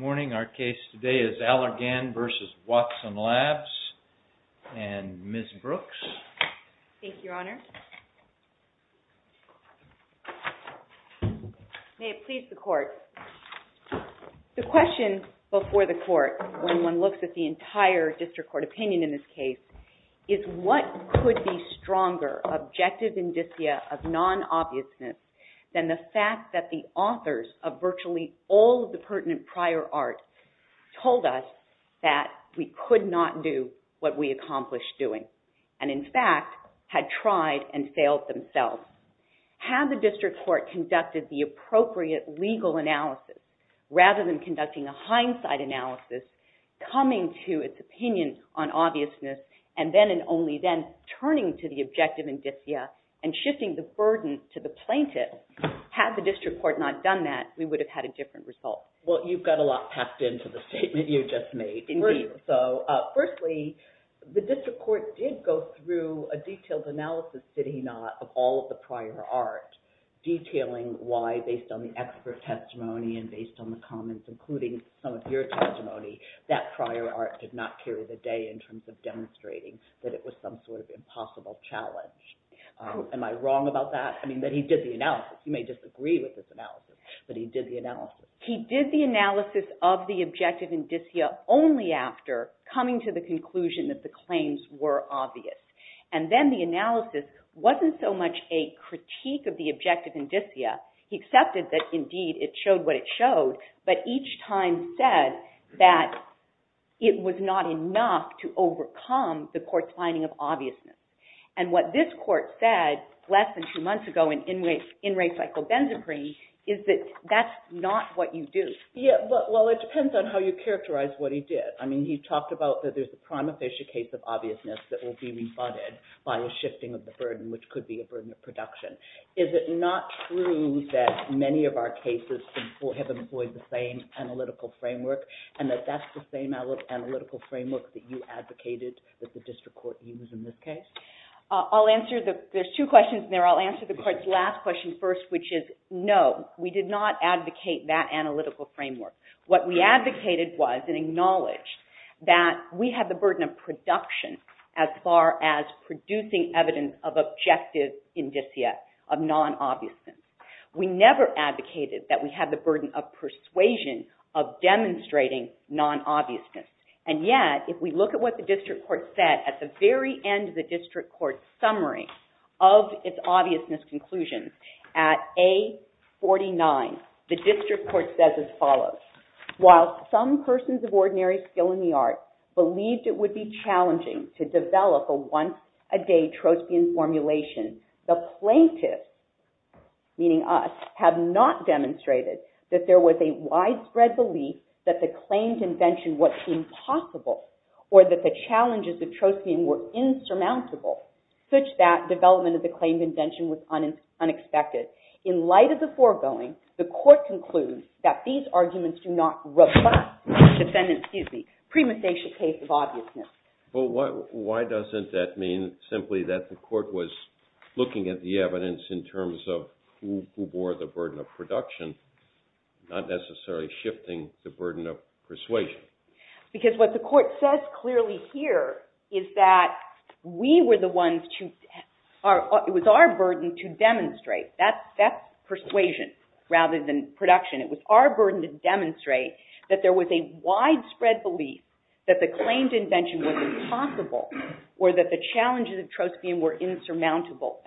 May it please the Court, the question before the Court, when one looks at the entire District Court opinion in this case, is what could be stronger objective indicia of non-obviousness than the fact that the authors of virtually all of the pertinent prior art told us that we could not do what we accomplished doing, and in fact, had tried and failed themselves. Had the District Court conducted the appropriate legal analysis, rather than conducting a hindsight analysis coming to its opinion on obviousness and then and only then turning to the objective indicia, and shifting the burden to the plaintiff, had the District Court not done that, we would have had a different result. LESLIE KENDRICK Well, you've got a lot packed into the statement you just made. So, firstly, the District Court did go through a detailed analysis, did he not, of all of the prior art, detailing why, based on the expert testimony and based on the comments, including some of your testimony, that prior art did not carry the day in terms of demonstrating that it was some sort of impossible challenge. Am I wrong about that? I mean, that he did the analysis. You may disagree with this analysis, but he did the analysis. SUSAN CRAWFORD He did the analysis of the objective indicia only after coming to the conclusion that the claims were obvious. And then the analysis wasn't so much a critique of the objective indicia, he accepted that indeed it showed what it showed, but each time said that it was not enough to overcome the court's finding of obviousness. And what this court said less than two months ago in race psychobenzaprine is that that's not what you do. LESLIE KENDRICK Yeah, well, it depends on how you characterize what he did. I mean, he talked about that there's a prima facie case of obviousness that will be rebutted by a shifting of the burden, which could be a burden of production. Is it not true that many of our cases have employed the same analytical framework and that that's the same analytical framework that you advocated that the district court used in this case? SUSAN CRAWFORD I'll answer the – there's two questions in there. I'll answer the court's last question first, which is no, we did not advocate that analytical framework. What we advocated was and acknowledged that we had the burden of production as far as producing evidence of objective indicia, of non-obviousness. We never advocated that we had the burden of persuasion of demonstrating non-obviousness. And yet, if we look at what the district court said at the very end of the district court summary of its obviousness conclusion at A49, the district court says as follows, while some persons of ordinary skill in the art believed it would be challenging to develop a once-a-day Trostian formulation, the plaintiffs, meaning us, have not demonstrated that there was a widespread belief that the claimed invention was impossible or that the challenges of Trostian were insurmountable, such that development of the claimed invention was unexpected. In light of the foregoing, the court concludes that these arguments do not robust defendant – excuse me – premonstration case of obviousness. But why doesn't that mean simply that the court was looking at the evidence in terms of who bore the burden of production, not necessarily shifting the burden of persuasion? Because what the court says clearly here is that we were the ones to – it was our burden to demonstrate. That's persuasion rather than production. It was our burden to demonstrate that there was a widespread belief that the claimed invention was impossible or that the challenges of Trostian were insurmountable.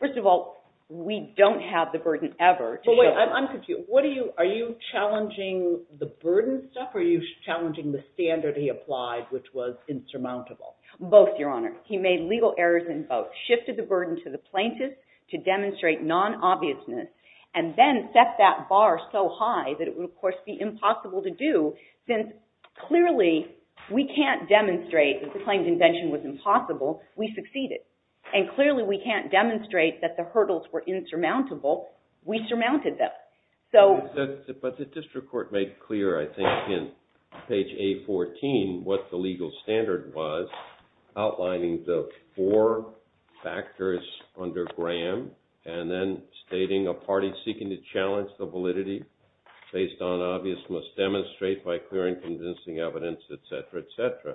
First of all, we don't have the burden ever to show – But wait, I'm confused. What do you – are you challenging the burden stuff or are you challenging the standard he applied, which was insurmountable? Both, Your Honor. He made legal errors in both, shifted the burden to the plaintiffs to demonstrate non-obviousness, and then set that bar so high that it would, of course, be impossible to do, since clearly we can't demonstrate that the claimed invention was impossible. We succeeded. And clearly we can't demonstrate that the hurdles were insurmountable. We surmounted them. So – But the district court made clear, I think, in page A14 what the legal standard was, outlining the four factors under Graham and then stating a party seeking to challenge the validity based on obvious must demonstrate by clear and convincing evidence, et cetera, et cetera.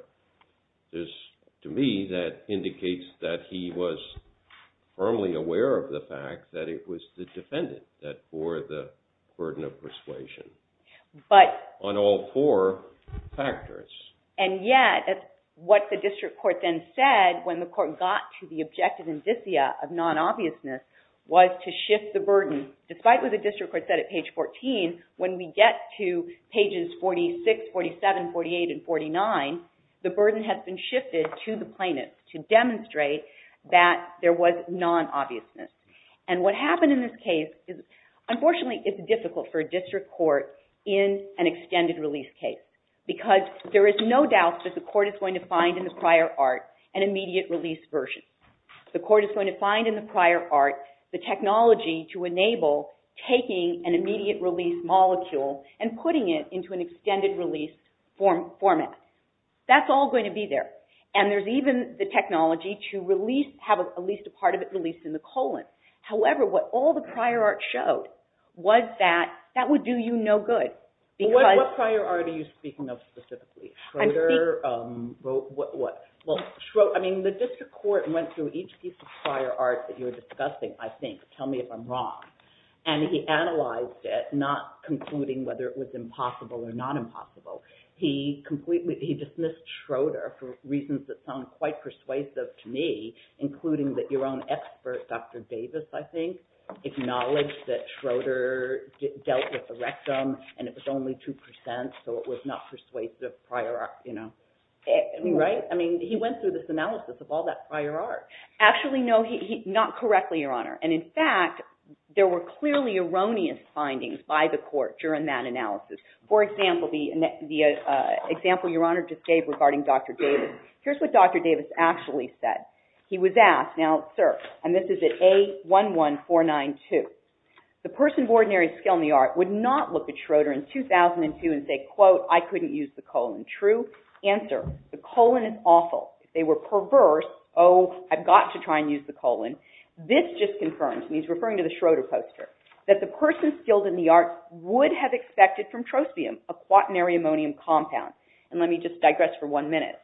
There's, to me, that indicates that he was firmly aware of the fact that it was the defendant that bore the burden of persuasion. But – On all four factors. And yet, what the district court then said when the court got to the objective indicia of non-obviousness was to shift the burden. Despite what the district court said at page 14, when we get to pages 46, 47, 48, and 49, the burden has been shifted to the plaintiffs to demonstrate that there was non-obviousness. And what happened in this case is – unfortunately, it's difficult for a district court in an extended release case, because there is no doubt that the court is going to find in the prior art an immediate release version. The court is going to find in the prior art the technology to enable taking an immediate release molecule and putting it into an extended release format. That's all going to be there. And there's even the technology to release – have at least a part of it released in the colon. However, what all the prior art showed was that that would do you no good, because – What prior art are you speaking of specifically? Schroeder? What? Well, Schroeder – I mean, the district court went through each piece of prior art that you were discussing, I think. Tell me if I'm wrong. And he analyzed it, not concluding whether it was impossible or not impossible. He completely – he dismissed Schroeder for reasons that sound quite persuasive to me, including that your own expert, Dr. Davis, I think, acknowledged that Schroeder dealt with erectum, and it was only 2 percent, so it was not persuasive prior art, you know. Right? I mean, he went through this analysis of all that prior art. Actually, no, not correctly, Your Honor. And in fact, there were clearly erroneous findings by the court during that analysis. For example, the example Your Honor just gave regarding Dr. Davis. Here's what Dr. Davis actually said. He was asked – now, sir, and this is at A11492. The person of ordinary skill in the art would not look at Schroeder in 2002 and say, quote, I couldn't use the colon. True? Answer, the colon is awful. If they were perverse, oh, I've got to try and use the colon. This just confirms – and he's referring to the Schroeder poster – that the person skilled in the art would have expected from trospium, a quaternary ammonium compound. And let me just digress for one minute.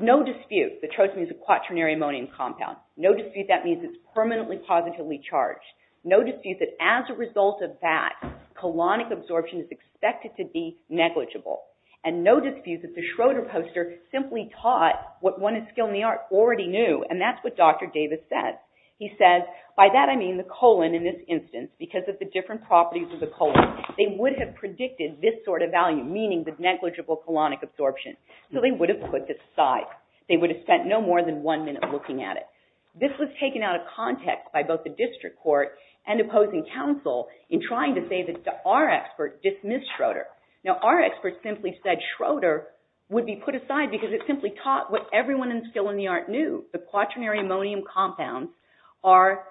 No dispute that trospium is a quaternary ammonium compound. No dispute that means it's permanently positively charged. No dispute that as a result of that, colonic absorption is expected to be negligible. And no dispute that the Schroeder poster simply taught what one of the skilled in the art already knew, and that's what Dr. Davis said. He said, by that I mean the colon in this instance, because of the different properties of the colon. They would have predicted this sort of value, meaning the negligible colonic absorption. So they would have put this aside. They would have spent no more than one minute looking at it. This was taken out of context by both the district court and opposing counsel in trying to say to our expert, dismiss Schroeder. Now our expert simply said Schroeder would be put aside because it simply taught what everyone in skilled in the art knew. The quaternary ammonium compounds are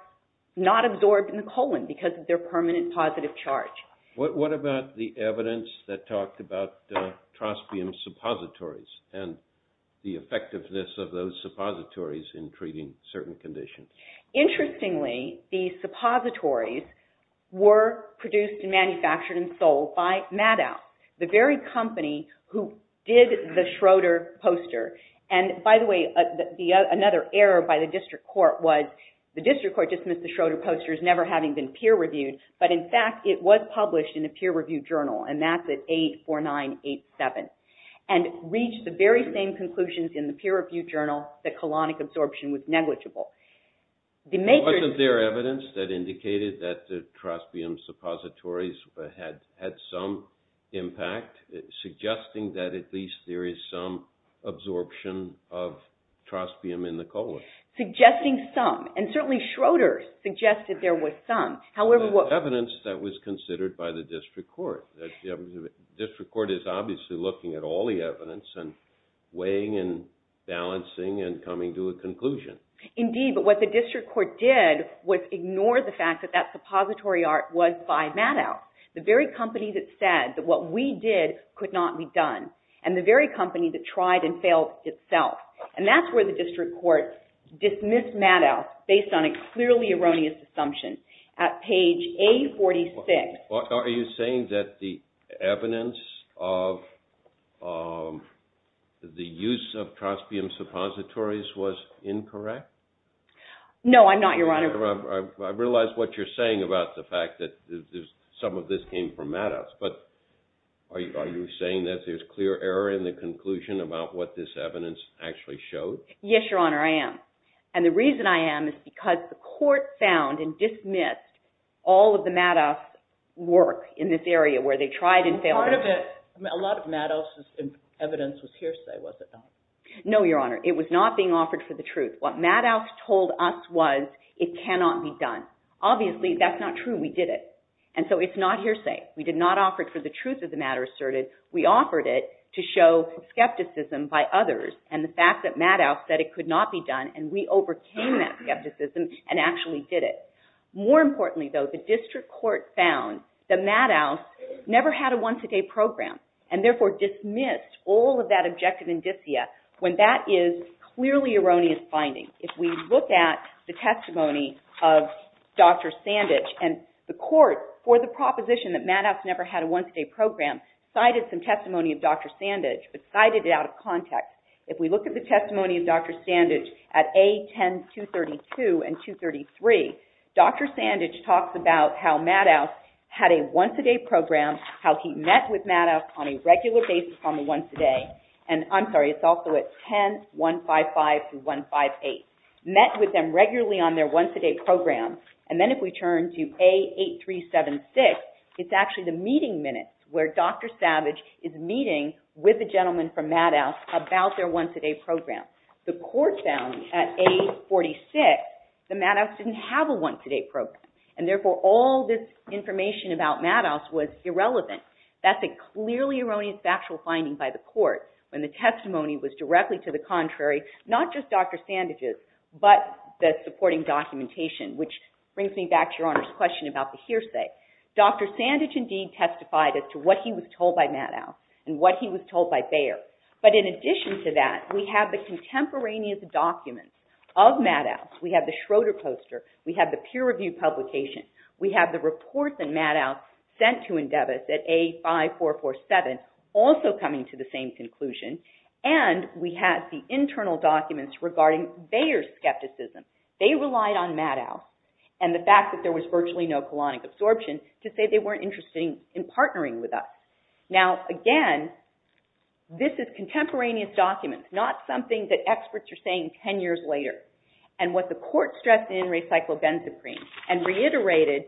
not absorbed in the colon because of their permanent positive charge. What about the evidence that talked about trospium suppositories and the effectiveness of those suppositories in treating certain conditions? Interestingly, the suppositories were produced and manufactured and sold by Maddow, the very company who did the Schroeder poster. And by the way, another error by the district court was the district court dismissed the Schroeder poster as never having been peer-reviewed, but in fact it was published in a peer-reviewed journal, and that's at 84987. And reached the very same conclusions in the peer-reviewed journal that colonic absorption was negligible. Was there evidence that indicated that the trospium suppositories had some impact, suggesting that at least there is some absorption of trospium in the colon? Suggesting some, and certainly Schroeder suggested there was some. Evidence that was considered by the district court. The district court is obviously looking at all the evidence and weighing and balancing and coming to a conclusion. Indeed, but what the district court did was ignore the fact that that suppository art was by Maddow, the very company that said that what we did could not be done, and the very company that tried and failed itself. And that's where the district court dismissed Maddow based on a clearly erroneous assumption at page 846. Are you saying that the evidence of the use of trospium suppositories was incorrect? No, I'm not, Your Honor. I realize what you're saying about the fact that some of this came from Maddow, but are you saying that there's clear error in the conclusion about what this evidence actually showed? Yes, Your Honor, I am. And the reason I am is because the court found and dismissed all of the Maddow's work in this area where they tried and failed. Part of it, a lot of Maddow's evidence was hearsay, was it not? No, Your Honor. It was not being offered for the truth. What Maddow told us was it cannot be done. Obviously, that's not true. We did it. And so it's not hearsay. We did not offer it for the truth of the matter asserted. We offered it to show skepticism by others and the fact that Maddow said it could not be done and we overcame that skepticism and actually did it. More importantly, though, the district court found that Maddow never had a once-a-day program and therefore dismissed all of that objective indicia when that is clearly erroneous finding. If we look at the testimony of Dr. Sandage and the court for the proposition that Maddow never had a once-a-day program cited some testimony of Dr. Sandage but cited it out of context. If we look at the testimony of Dr. Sandage at A10-232 and 233, Dr. Sandage talks about how Maddow had a once-a-day program, how he met with Maddow on a regular basis on a once-a-day and I'm sorry, it's also at 10-155-158, met with them regularly on their once-a-day program and then if we turn to A8376, it's actually the meeting minutes where Dr. Savage is meeting with the gentleman from Maddow about their once-a-day program. The court found at A46 that Maddow didn't have a once-a-day program and therefore all this information about Maddow was irrelevant. That's a clearly erroneous factual finding by the court when the testimony was directly to the contrary, not just Dr. Sandage's but the supporting documentation which brings me back to Your Honor's question about the hearsay. Dr. Sandage indeed testified as to what he was told by Maddow and what he was told by Bayer but in addition to that, we have the contemporaneous documents of Maddow. We have the Schroeder poster. We have the peer-reviewed publication. We have the reports that Maddow sent to Endeavous at A5447 also coming to the same conclusion and we have the internal documents regarding Bayer's skepticism. They relied on Maddow and the fact that there was virtually no colonic absorption to say they weren't interested in partnering with us. Now again, this is contemporaneous documents, not something that experts are saying ten years later and what the court stressed in Recyclo-Benz Supreme and reiterated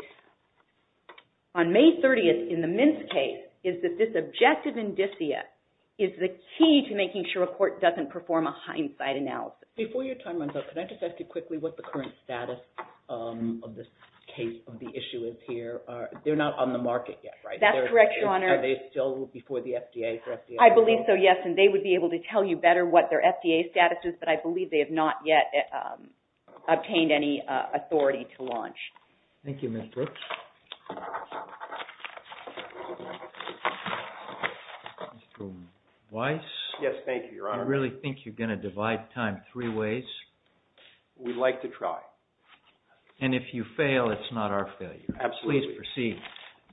on May 30th in the Mintz case is that this objective indicia is the key to making sure a court doesn't perform a hindsight analysis. Before your time runs out, can I just ask you quickly what the current status of this case of the issue is here? They're not on the market yet, right? That's correct, Your Honor. Are they still before the FDA? I believe so, yes, and they would be able to tell you better what their FDA status is but I believe they have not yet obtained any authority to launch. Thank you, Ms. Brooks. Mr. Weiss? Yes, thank you, Your Honor. Do you really think you're going to divide time three ways? We'd like to try. And if you fail, it's not our failure. Absolutely. Please proceed.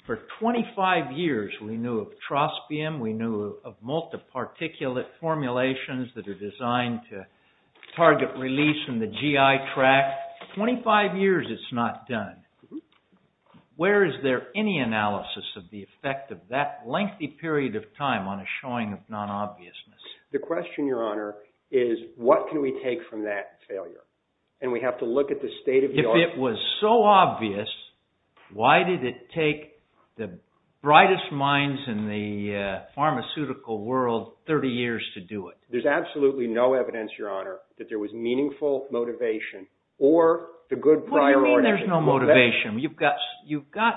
For 25 years we knew of trospium, we knew of multi-particulate formulations that are designed to target release in the GI tract. Twenty-five years it's not done. Where is there any analysis of the effect of that lengthy period of time on a showing of non-obviousness? The question, Your Honor, is what can we take from that failure? And we have to look at the state of the art... If it was so obvious, why did it take the brightest minds in the pharmaceutical world 30 years to do it? There's absolutely no evidence, Your Honor, that there was meaningful motivation or the good priority... What do you mean there's no motivation? You've got,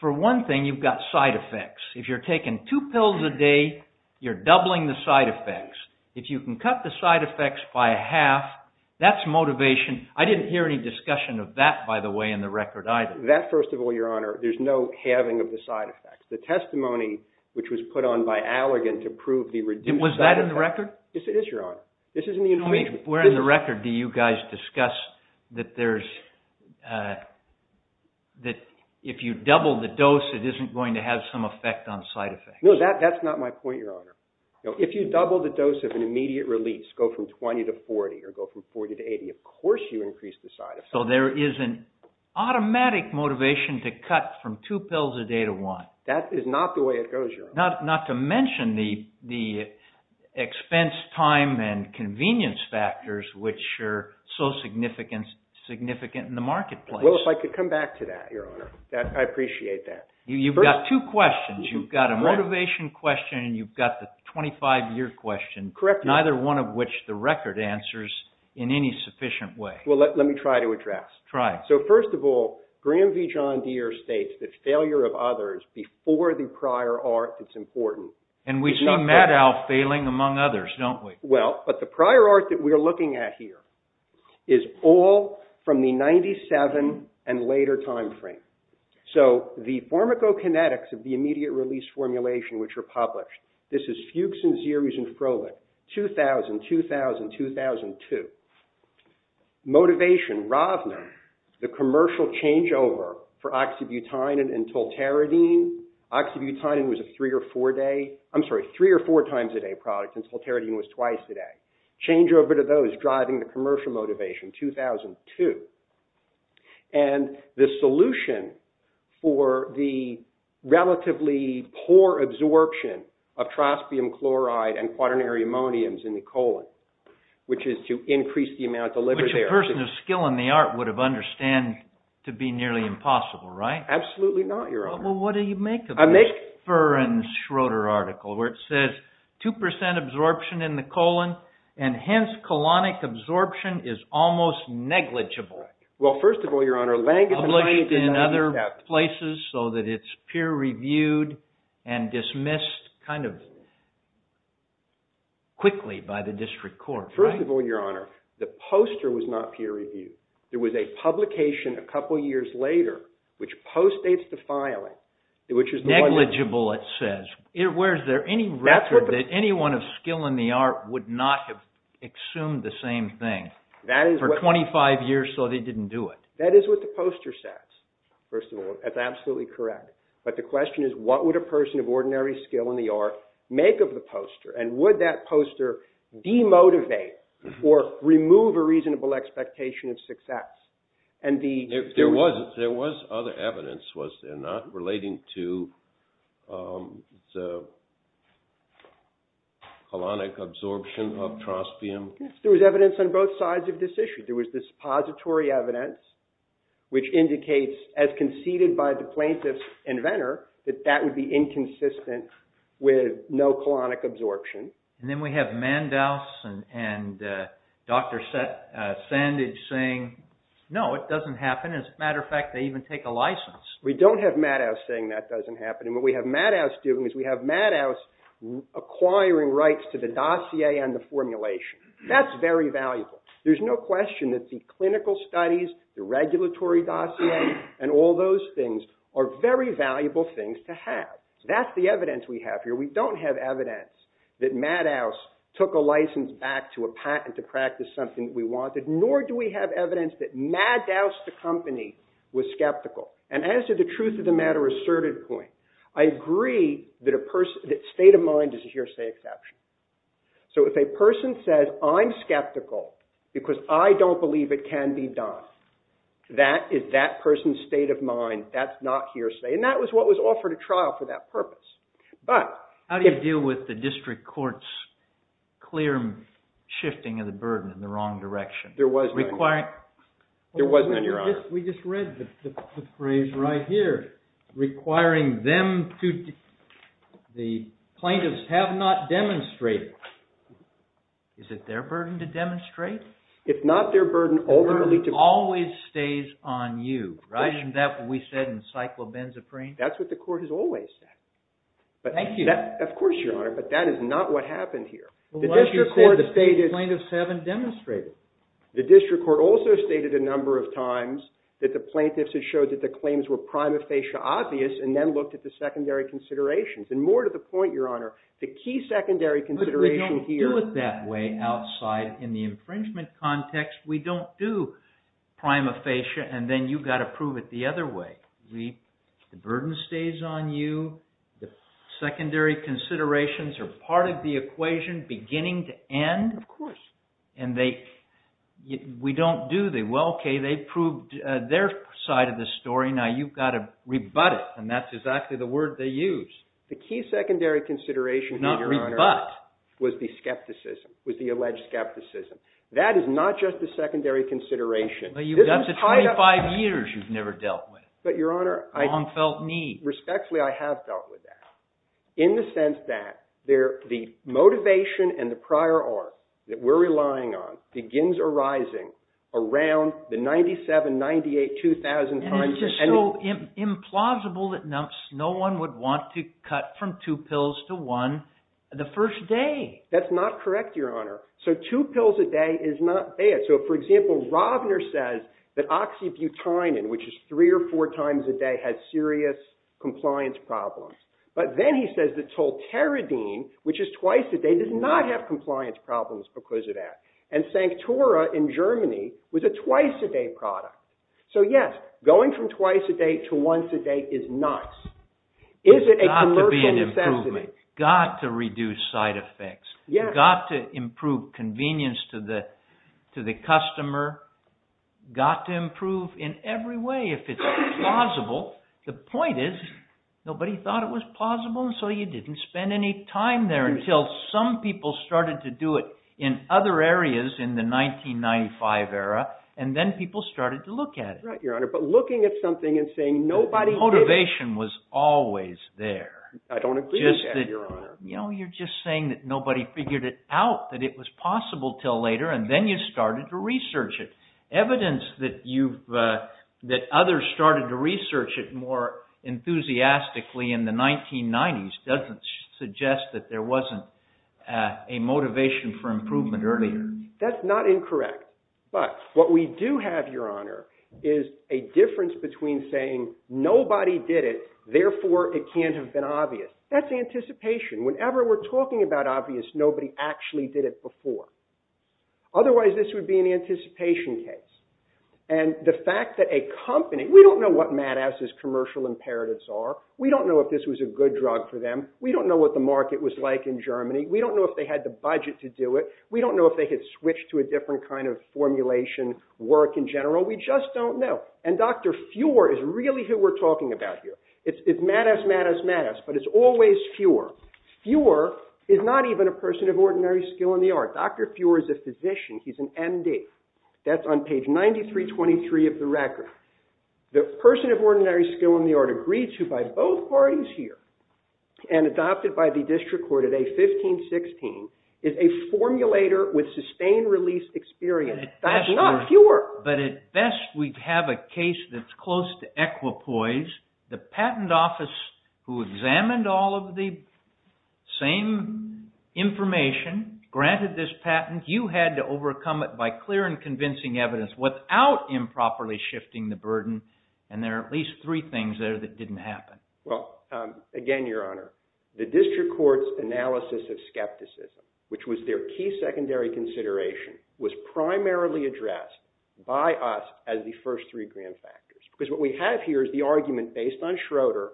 for one thing, you've got side effects. If you're taking two pills a day, you're doubling the side effects. If you can cut the side effects by half, that's motivation. I didn't hear any discussion of that, by the way, in the record either. That, first of all, Your Honor, there's no halving of the side effects. The testimony, which was put on by Allegan to prove the reduced side effects... Was that in the record? It is, Your Honor. This is in the information. Where in the record do you guys discuss that if you double the dose, it isn't going to have some effect on side effects? No, that's not my point, Your Honor. If you double the dose of an immediate release, go from 20 to 40 or go from 40 to 80, of course you increase the side effects. So there is an automatic motivation to cut from two pills a day to one. That is not the way it goes, Your Honor. Not to mention the expense, time, and convenience factors which are so significant in the marketplace. Well, if I could come back to that, Your Honor. I appreciate that. You've got two questions. You've got a motivation question and you've got the 25-year question. Correct me if I'm wrong. Neither one of which the record answers in any sufficient way. Well, let me try to address. Try it. So, first of all, Graeme V. John Deere states that failure of others before the prior art is important. And we see Maddow failing among others, don't we? Well, but the prior art that we're looking at here is all from the 97 and later time frame. So, the formicokinetics of the immediate release formulation which were published. This is Fuchs and Zeres and Froehlich, 2000, 2000, 2002. Motivation, Ravner, the commercial changeover for oxybutynin and tolteridine. Oxybutynin was a three or four day, I'm sorry, three or four times a day product and tolteridine was twice a day. Changeover to those driving the commercial motivation, 2002. And the solution for the relatively poor absorption of traspium chloride and quaternary ammoniums in the colon, which is to increase the amount of liver there. Which a person of skill in the art would have understood to be nearly impossible, right? Absolutely not, Your Honor. Well, what do you make of this? I make. Ferrens Schroeder article where it says 2% absorption in the colon and hence colonic absorption is almost negligible. Well, first of all, Your Honor, Lange is... Published in other places so that it's peer-reviewed and dismissed kind of quickly by the district court. First of all, Your Honor, the poster was not peer-reviewed. There was a publication a couple of years later which postdates the filing, which is... Negligible, it says. Where is there any record that anyone of skill in the art would not have assumed the same thing? For 25 years, so they didn't do it. That is what the poster says, first of all. That's absolutely correct. But the question is, what would a person of ordinary skill in the art make of the poster? And would that poster demotivate or remove a reasonable expectation of success? There was other evidence, was there, not relating to the colonic absorption of trospium? Yes, there was evidence on both sides of this issue. There was this pository evidence which indicates, as conceded by the plaintiff's inventor, that that would be inconsistent with no colonic absorption. And then we have Mandaus and Dr. Sandage saying, no, it doesn't happen. As a matter of fact, they even take a license. We don't have Mandaus saying that doesn't happen. And what we have Mandaus doing is we have Mandaus acquiring rights to the dossier and the formulation. That's very valuable. There's no question that the clinical studies, the regulatory dossier, and all those things are very valuable things to have. That's the evidence we have here. We don't have evidence that Mandaus took a license back to a patent to practice something we wanted, nor do we have evidence that Mandaus, the company, was skeptical. And as to the truth of the matter asserted point, I agree that state of mind is a hearsay exception. So if a person says, I'm skeptical because I don't believe it can be done, that is that person's state of mind. That's not hearsay. And that was what was offered at trial for that purpose. How do you deal with the district court's clear shifting of the burden in the wrong direction? There was none. There was none, Your Honor. We just read the phrase right here, requiring them to… The plaintiffs have not demonstrated. Is it their burden to demonstrate? If not their burden, ultimately to… The burden always stays on you, right? Isn't that what we said in cyclobenzaprine? That's what the court has always said. Thank you. Of course, Your Honor, but that is not what happened here. The plaintiffs haven't demonstrated. The district court also stated a number of times that the plaintiffs had showed that the claims were prima facie obvious and then looked at the secondary considerations. And more to the point, Your Honor, the key secondary consideration here… But we don't do it that way outside in the infringement context. We don't do prima facie and then you've got to prove it the other way. The burden stays on you. The secondary considerations are part of the equation beginning to end. Of course. And we don't do them. Well, okay, they proved their side of the story. Now you've got to rebut it, and that's exactly the word they use. The key secondary consideration here, Your Honor, was the skepticism, was the alleged skepticism. That is not just the secondary consideration. That's the 25 years you've never dealt with. But, Your Honor, respectfully, I have dealt with that in the sense that the motivation and the prior art that we're relying on begins arising around the 97, 98, 2000 times. And it's just so implausible that no one would want to cut from two pills to one the first day. That's not correct, Your Honor. So two pills a day is not bad. So, for example, Robner says that oxybutynin, which is three or four times a day, has serious compliance problems. But then he says that tolteridine, which is twice a day, does not have compliance problems because of that. And Sanctora in Germany was a twice a day product. So, yes, going from twice a day to once a day is nice. Is it a commercial necessity? It's got to be an improvement. Got to reduce side effects. Yes. Got to improve convenience to the customer. Got to improve in every way if it's plausible. The point is nobody thought it was plausible, and so you didn't spend any time there until some people started to do it in other areas in the 1995 era. And then people started to look at it. Right, Your Honor. But looking at something and saying nobody did it. The motivation was always there. I don't agree with that, Your Honor. You know, you're just saying that nobody figured it out, that it was possible until later, and then you started to research it. Evidence that others started to research it more enthusiastically in the 1990s doesn't suggest that there wasn't a motivation for improvement earlier. That's not incorrect. But what we do have, Your Honor, is a difference between saying nobody did it, therefore it can't have been obvious. That's anticipation. Whenever we're talking about obvious, nobody actually did it before. Otherwise, this would be an anticipation case. And the fact that a company – we don't know what Madafs' commercial imperatives are. We don't know if this was a good drug for them. We don't know what the market was like in Germany. We don't know if they had the budget to do it. We don't know if they had switched to a different kind of formulation work in general. We just don't know. And Dr. Fuhr is really who we're talking about here. It's Madafs, Madafs, Madafs, but it's always Fuhr. Fuhr is not even a person of ordinary skill in the art. Dr. Fuhr is a physician. He's an MD. That's on page 9323 of the record. The person of ordinary skill in the art agreed to by both parties here and adopted by the district court at A1516 is a formulator with sustained release experience. That's not Fuhr. But at best, we'd have a case that's close to equipoise. The patent office, who examined all of the same information, granted this patent. You had to overcome it by clear and convincing evidence without improperly shifting the burden, and there are at least three things there that didn't happen. Well, again, Your Honor, the district court's analysis of skepticism, which was their key secondary consideration, was primarily addressed by us as the first three grand factors. Because what we have here is the argument based on Schroeder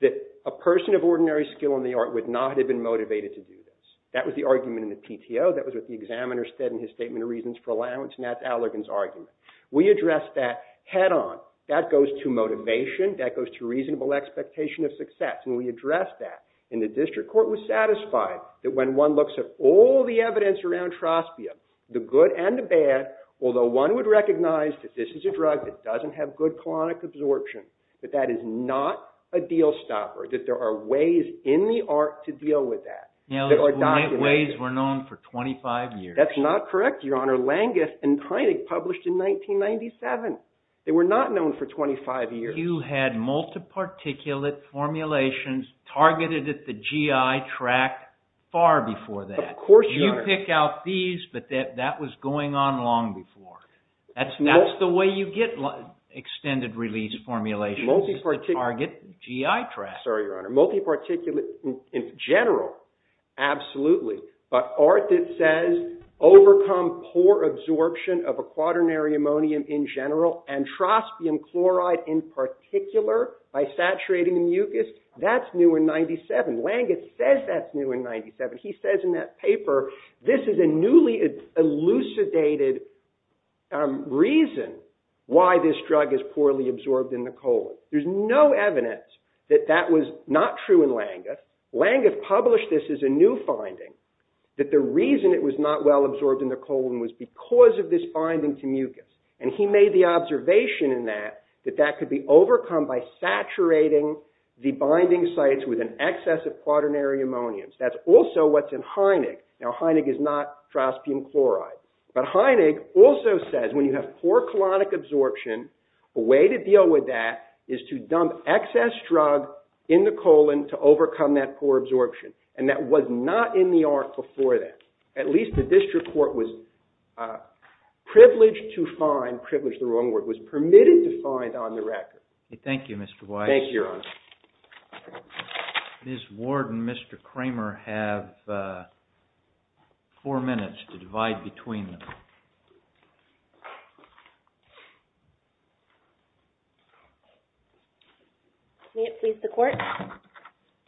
that a person of ordinary skill in the art would not have been motivated to do this. That was the argument in the PTO. That was what the examiner said in his statement of reasons for allowance, and that's Allergan's argument. We addressed that head on. That goes to motivation. That goes to reasonable expectation of success, and we addressed that. And the district court was satisfied that when one looks at all the evidence around Trospia, the good and the bad, although one would recognize that this is a drug that doesn't have good chronic absorption, that that is not a deal stopper, that there are ways in the art to deal with that. Ways were known for 25 years. That's not correct, Your Honor. Langis and Kynig published in 1997. They were not known for 25 years. You had multi-particulate formulations targeted at the GI tract far before that. Of course, Your Honor. You pick out these, but that was going on long before. That's the way you get extended release formulations, is to target GI tract. Sorry, Your Honor. Absolutely. But art that says overcome poor absorption of a quaternary ammonium in general and trospium chloride in particular by saturating the mucus, that's new in 97. Langis says that's new in 97. He says in that paper, this is a newly elucidated reason why this drug is poorly absorbed in the cold. There's no evidence that that was not true in Langis. Langis published this as a new finding, that the reason it was not well absorbed in the cold was because of this binding to mucus. And he made the observation in that, that that could be overcome by saturating the binding sites with an excess of quaternary ammonium. That's also what's in Kynig. Now, Kynig is not trospium chloride. But Kynig also says when you have poor colonic absorption, a way to deal with that is to dump excess drug in the colon to overcome that poor absorption. And that was not in the art before that. At least the district court was privileged to find, privileged is the wrong word, was permitted to find on the record. Thank you, Mr. Weiss. Thank you, Your Honor. Ms. Ward and Mr. Kramer have four minutes to divide between them. May it please the court.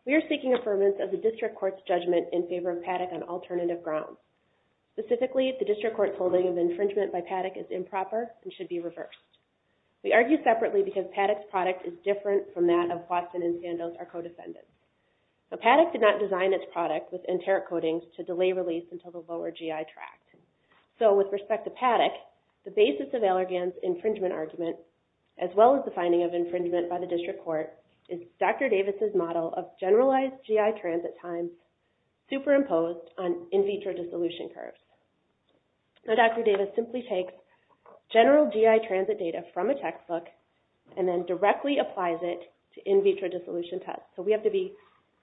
We are seeking affirmance of the district court's judgment in favor of PADEC on alternative grounds. Specifically, the district court's holding of infringement by PADEC is improper and should be reversed. We argue separately because PADEC's product is different from that of Watson and Sandoz, our co-defendants. Now, PADEC did not design its product with enteric coatings to delay release until the lower GI tract. So, with respect to PADEC, the basis of Allergan's infringement argument, as well as the finding of infringement by the district court, is Dr. Davis' model of generalized GI transit time superimposed on in vitro dissolution curves. Now, Dr. Davis simply takes general GI transit data from a textbook and then directly applies it to in vitro dissolution tests. So, we have to be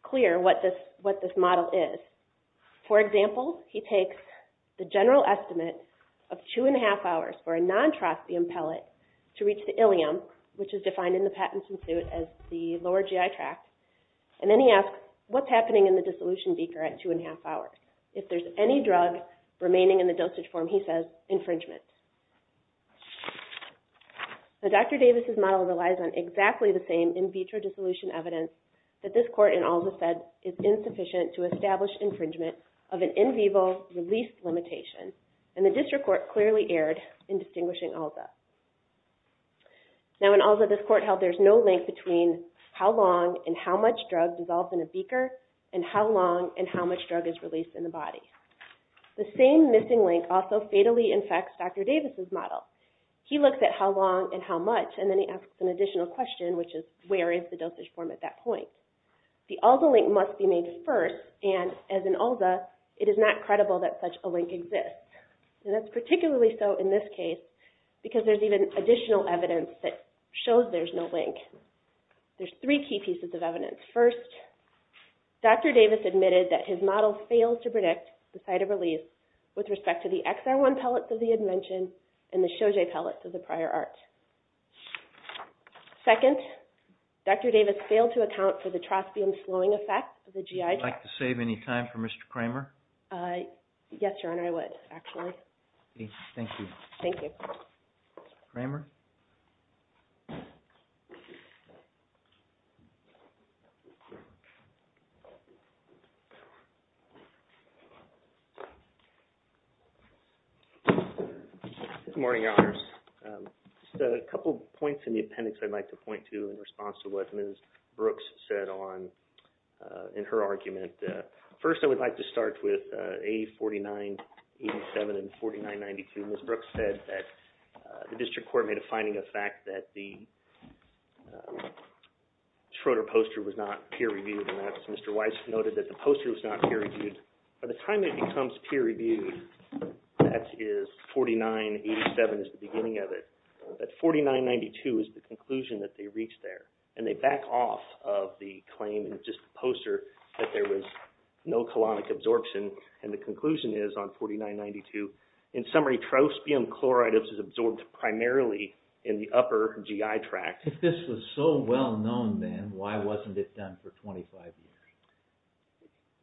clear what this model is. For example, he takes the general estimate of two and a half hours for a non-trosteum pellet to reach the ileum, which is defined in the Patent and Suit as the lower GI tract. And then he asks, what's happening in the dissolution beaker at two and a half hours? If there's any drug remaining in the dosage form, he says infringement. Now, Dr. Davis' model relies on exactly the same in vitro dissolution evidence that this court in ALSA said is insufficient to establish infringement of an in vivo release limitation. And the district court clearly erred in distinguishing ALSA. Now, in ALSA, this court held there's no link between how long and how much drug dissolves in a beaker, and how long and how much drug is released in the body. The same missing link also fatally infects Dr. Davis' model. He looks at how long and how much, and then he asks an additional question, which is, where is the dosage form at that point? The ALSA link must be made first, and as in ALSA, it is not credible that such a link exists. And that's particularly so in this case, because there's even additional evidence that shows there's no link. There's three key pieces of evidence. First, Dr. Davis admitted that his model failed to predict the site of release with respect to the XR1 pellets of the invention and the Shoje pellets of the prior art. Second, Dr. Davis failed to account for the trospium slowing effect of the GI tract. Would you like to save any time for Mr. Kramer? Yes, Your Honor, I would, actually. Thank you. Thank you. Kramer? Good morning, Your Honors. Just a couple points in the appendix I'd like to point to in response to what Ms. Brooks said in her argument. First, I would like to start with A4987 and 4992. Ms. Brooks said that the district court made a finding of fact that the Schroeder poster was not peer-reviewed, and that's Mr. Weiss noted that the poster was not peer-reviewed. By the time it becomes peer-reviewed, that is 4987 is the beginning of it. But 4992 is the conclusion that they reached there, and they back off of the claim in just the poster that there was no colonic absorption, and the conclusion is on 4992, in summary, trospium chloride is absorbed primarily in the upper GI tract. If this was so well-known then, why wasn't it done for 25 years?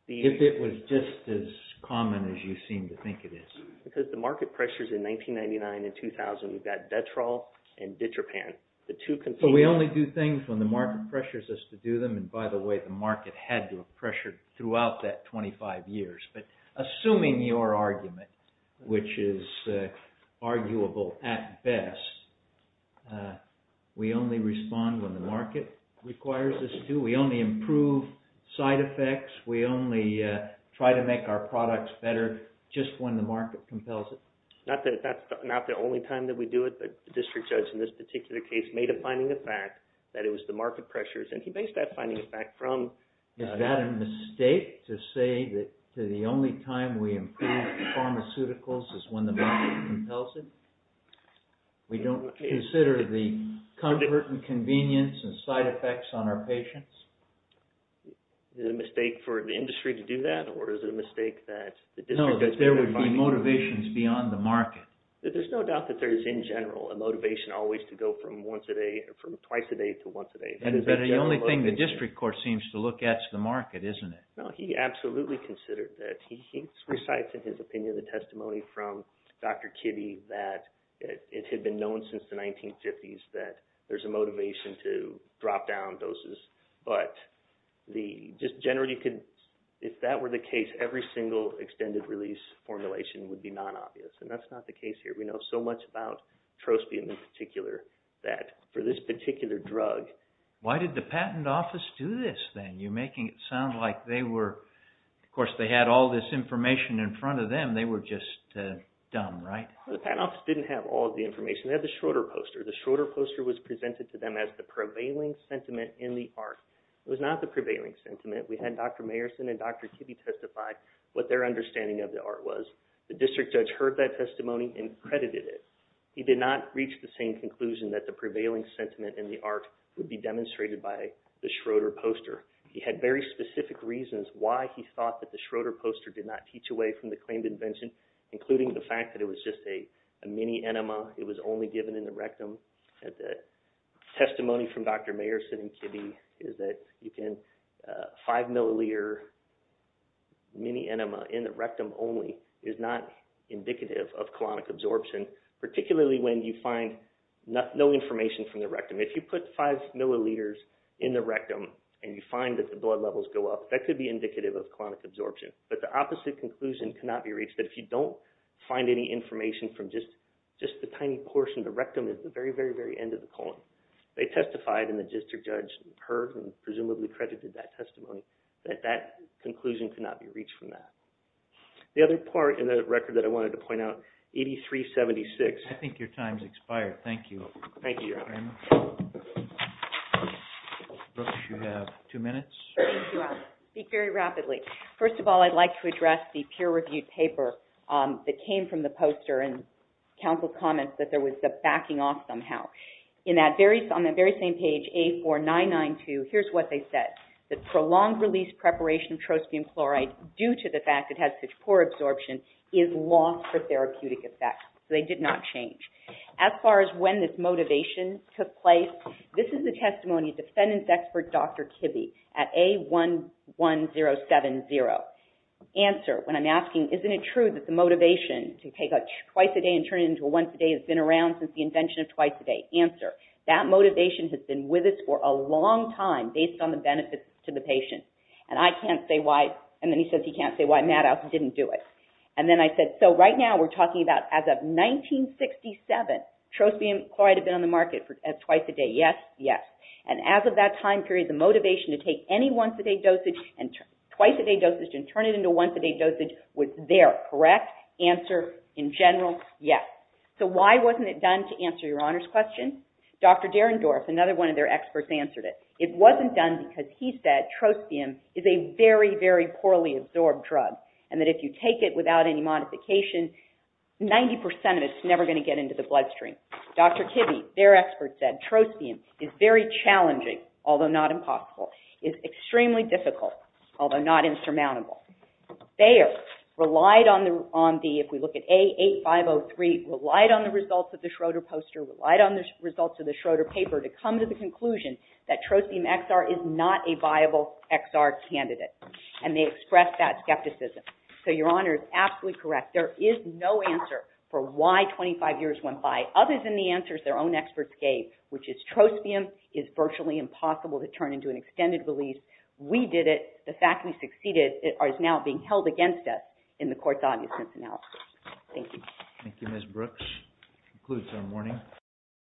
If it was just as common as you seem to think it is. Because the market pressures in 1999 and 2000, we've got Detrol and Ditropan. But we only do things when the market pressures us to do them, and by the way, the market had to have pressured throughout that 25 years. But assuming your argument, which is arguable at best, we only respond when the market requires us to. We only improve side effects. We only try to make our products better just when the market compels it. Not that that's not the only time that we do it, but the district judge in this particular case made a finding of fact that it was the market pressures, and he based that finding of fact from— Is it a mistake to say that the only time we improve pharmaceuticals is when the market compels it? We don't consider the comfort and convenience and side effects on our patients? Is it a mistake for the industry to do that, or is it a mistake that the district judge— No, that there would be motivations beyond the market. There's no doubt that there is, in general, a motivation always to go from once a day, from twice a day to once a day. But the only thing the district court seems to look at is the market, isn't it? No, he absolutely considered that. He recites in his opinion the testimony from Dr. Kitty that it had been known since the 1950s that there's a motivation to drop down doses. But just generally, if that were the case, every single extended release formulation would be non-obvious, and that's not the case here. We know so much about trospium, in particular, that for this particular drug— Why did the patent office do this, then? You're making it sound like they were—of course, they had all this information in front of them. They were just dumb, right? The patent office didn't have all of the information. They had the Schroeder poster. The Schroeder poster was presented to them as the prevailing sentiment in the art. It was not the prevailing sentiment. We had Dr. Mayerson and Dr. Kitty testify what their understanding of the art was. The district judge heard that testimony and credited it. He did not reach the same conclusion that the prevailing sentiment in the art would be demonstrated by the Schroeder poster. He had very specific reasons why he thought that the Schroeder poster did not teach away from the claimed invention, including the fact that it was just a mini enema. It was only given in the rectum. Testimony from Dr. Mayerson and Kitty is that you can—five milliliter mini enema in the rectum only is not indicative of colonic absorption, particularly when you find no information from the rectum. If you put five milliliters in the rectum and you find that the blood levels go up, that could be indicative of colonic absorption. But the opposite conclusion cannot be reached, that if you don't find any information from just the tiny portion of the rectum at the very, very, very end of the colon. They testified and the district judge heard and presumably credited that testimony, that that conclusion could not be reached from that. The other part in the record that I wanted to point out, 8376— I think your time has expired. Thank you. Thank you, Your Honor. Ms. Brooks, you have two minutes. Thank you, Alex. I'll speak very rapidly. First of all, I'd like to address the peer-reviewed paper that came from the poster and counsel comments that there was a backing off somehow. On that very same page, A4992, here's what they said. The prolonged release preparation of trospium chloride due to the fact it has such poor absorption is lost for therapeutic effect. So they did not change. As far as when this motivation took place, this is the testimony of defendant's expert, Dr. Kibbe, at A11070. Answer, when I'm asking, isn't it true that the motivation to take twice a day and turn it into a once a day has been around since the invention of twice a day? Answer, that motivation has been with us for a long time based on the benefits to the patient. And I can't say why—and then he says he can't say why Maddox didn't do it. And then I said, so right now we're talking about as of 1967, trospium chloride had been on the market twice a day. Yes, yes. And as of that time period, the motivation to take any once a day dosage and twice a day dosage and turn it into a once a day dosage was there, correct? Answer, in general, yes. So why wasn't it done, to answer your Honor's question? Dr. Derendorf, another one of their experts, answered it. It wasn't done because he said trospium is a very, very poorly absorbed drug and that if you take it without any modification, 90% of it is never going to get into the bloodstream. Dr. Kibbe, their expert, said trospium is very challenging, although not impossible. It's extremely difficult, although not insurmountable. Thayer relied on the—if we look at A8503— relied on the results of the Schroeder poster, relied on the results of the Schroeder paper to come to the conclusion that trospium XR is not a viable XR candidate. And they expressed that skepticism. So your Honor is absolutely correct. There is no answer for why 25 years went by. Other than the answers their own experts gave, which is trospium is virtually impossible to turn into an extended release. We did it. The fact we succeeded is now being held against us in the court's obviousness analysis. Thank you. Thank you, Ms. Brooks. That concludes our morning.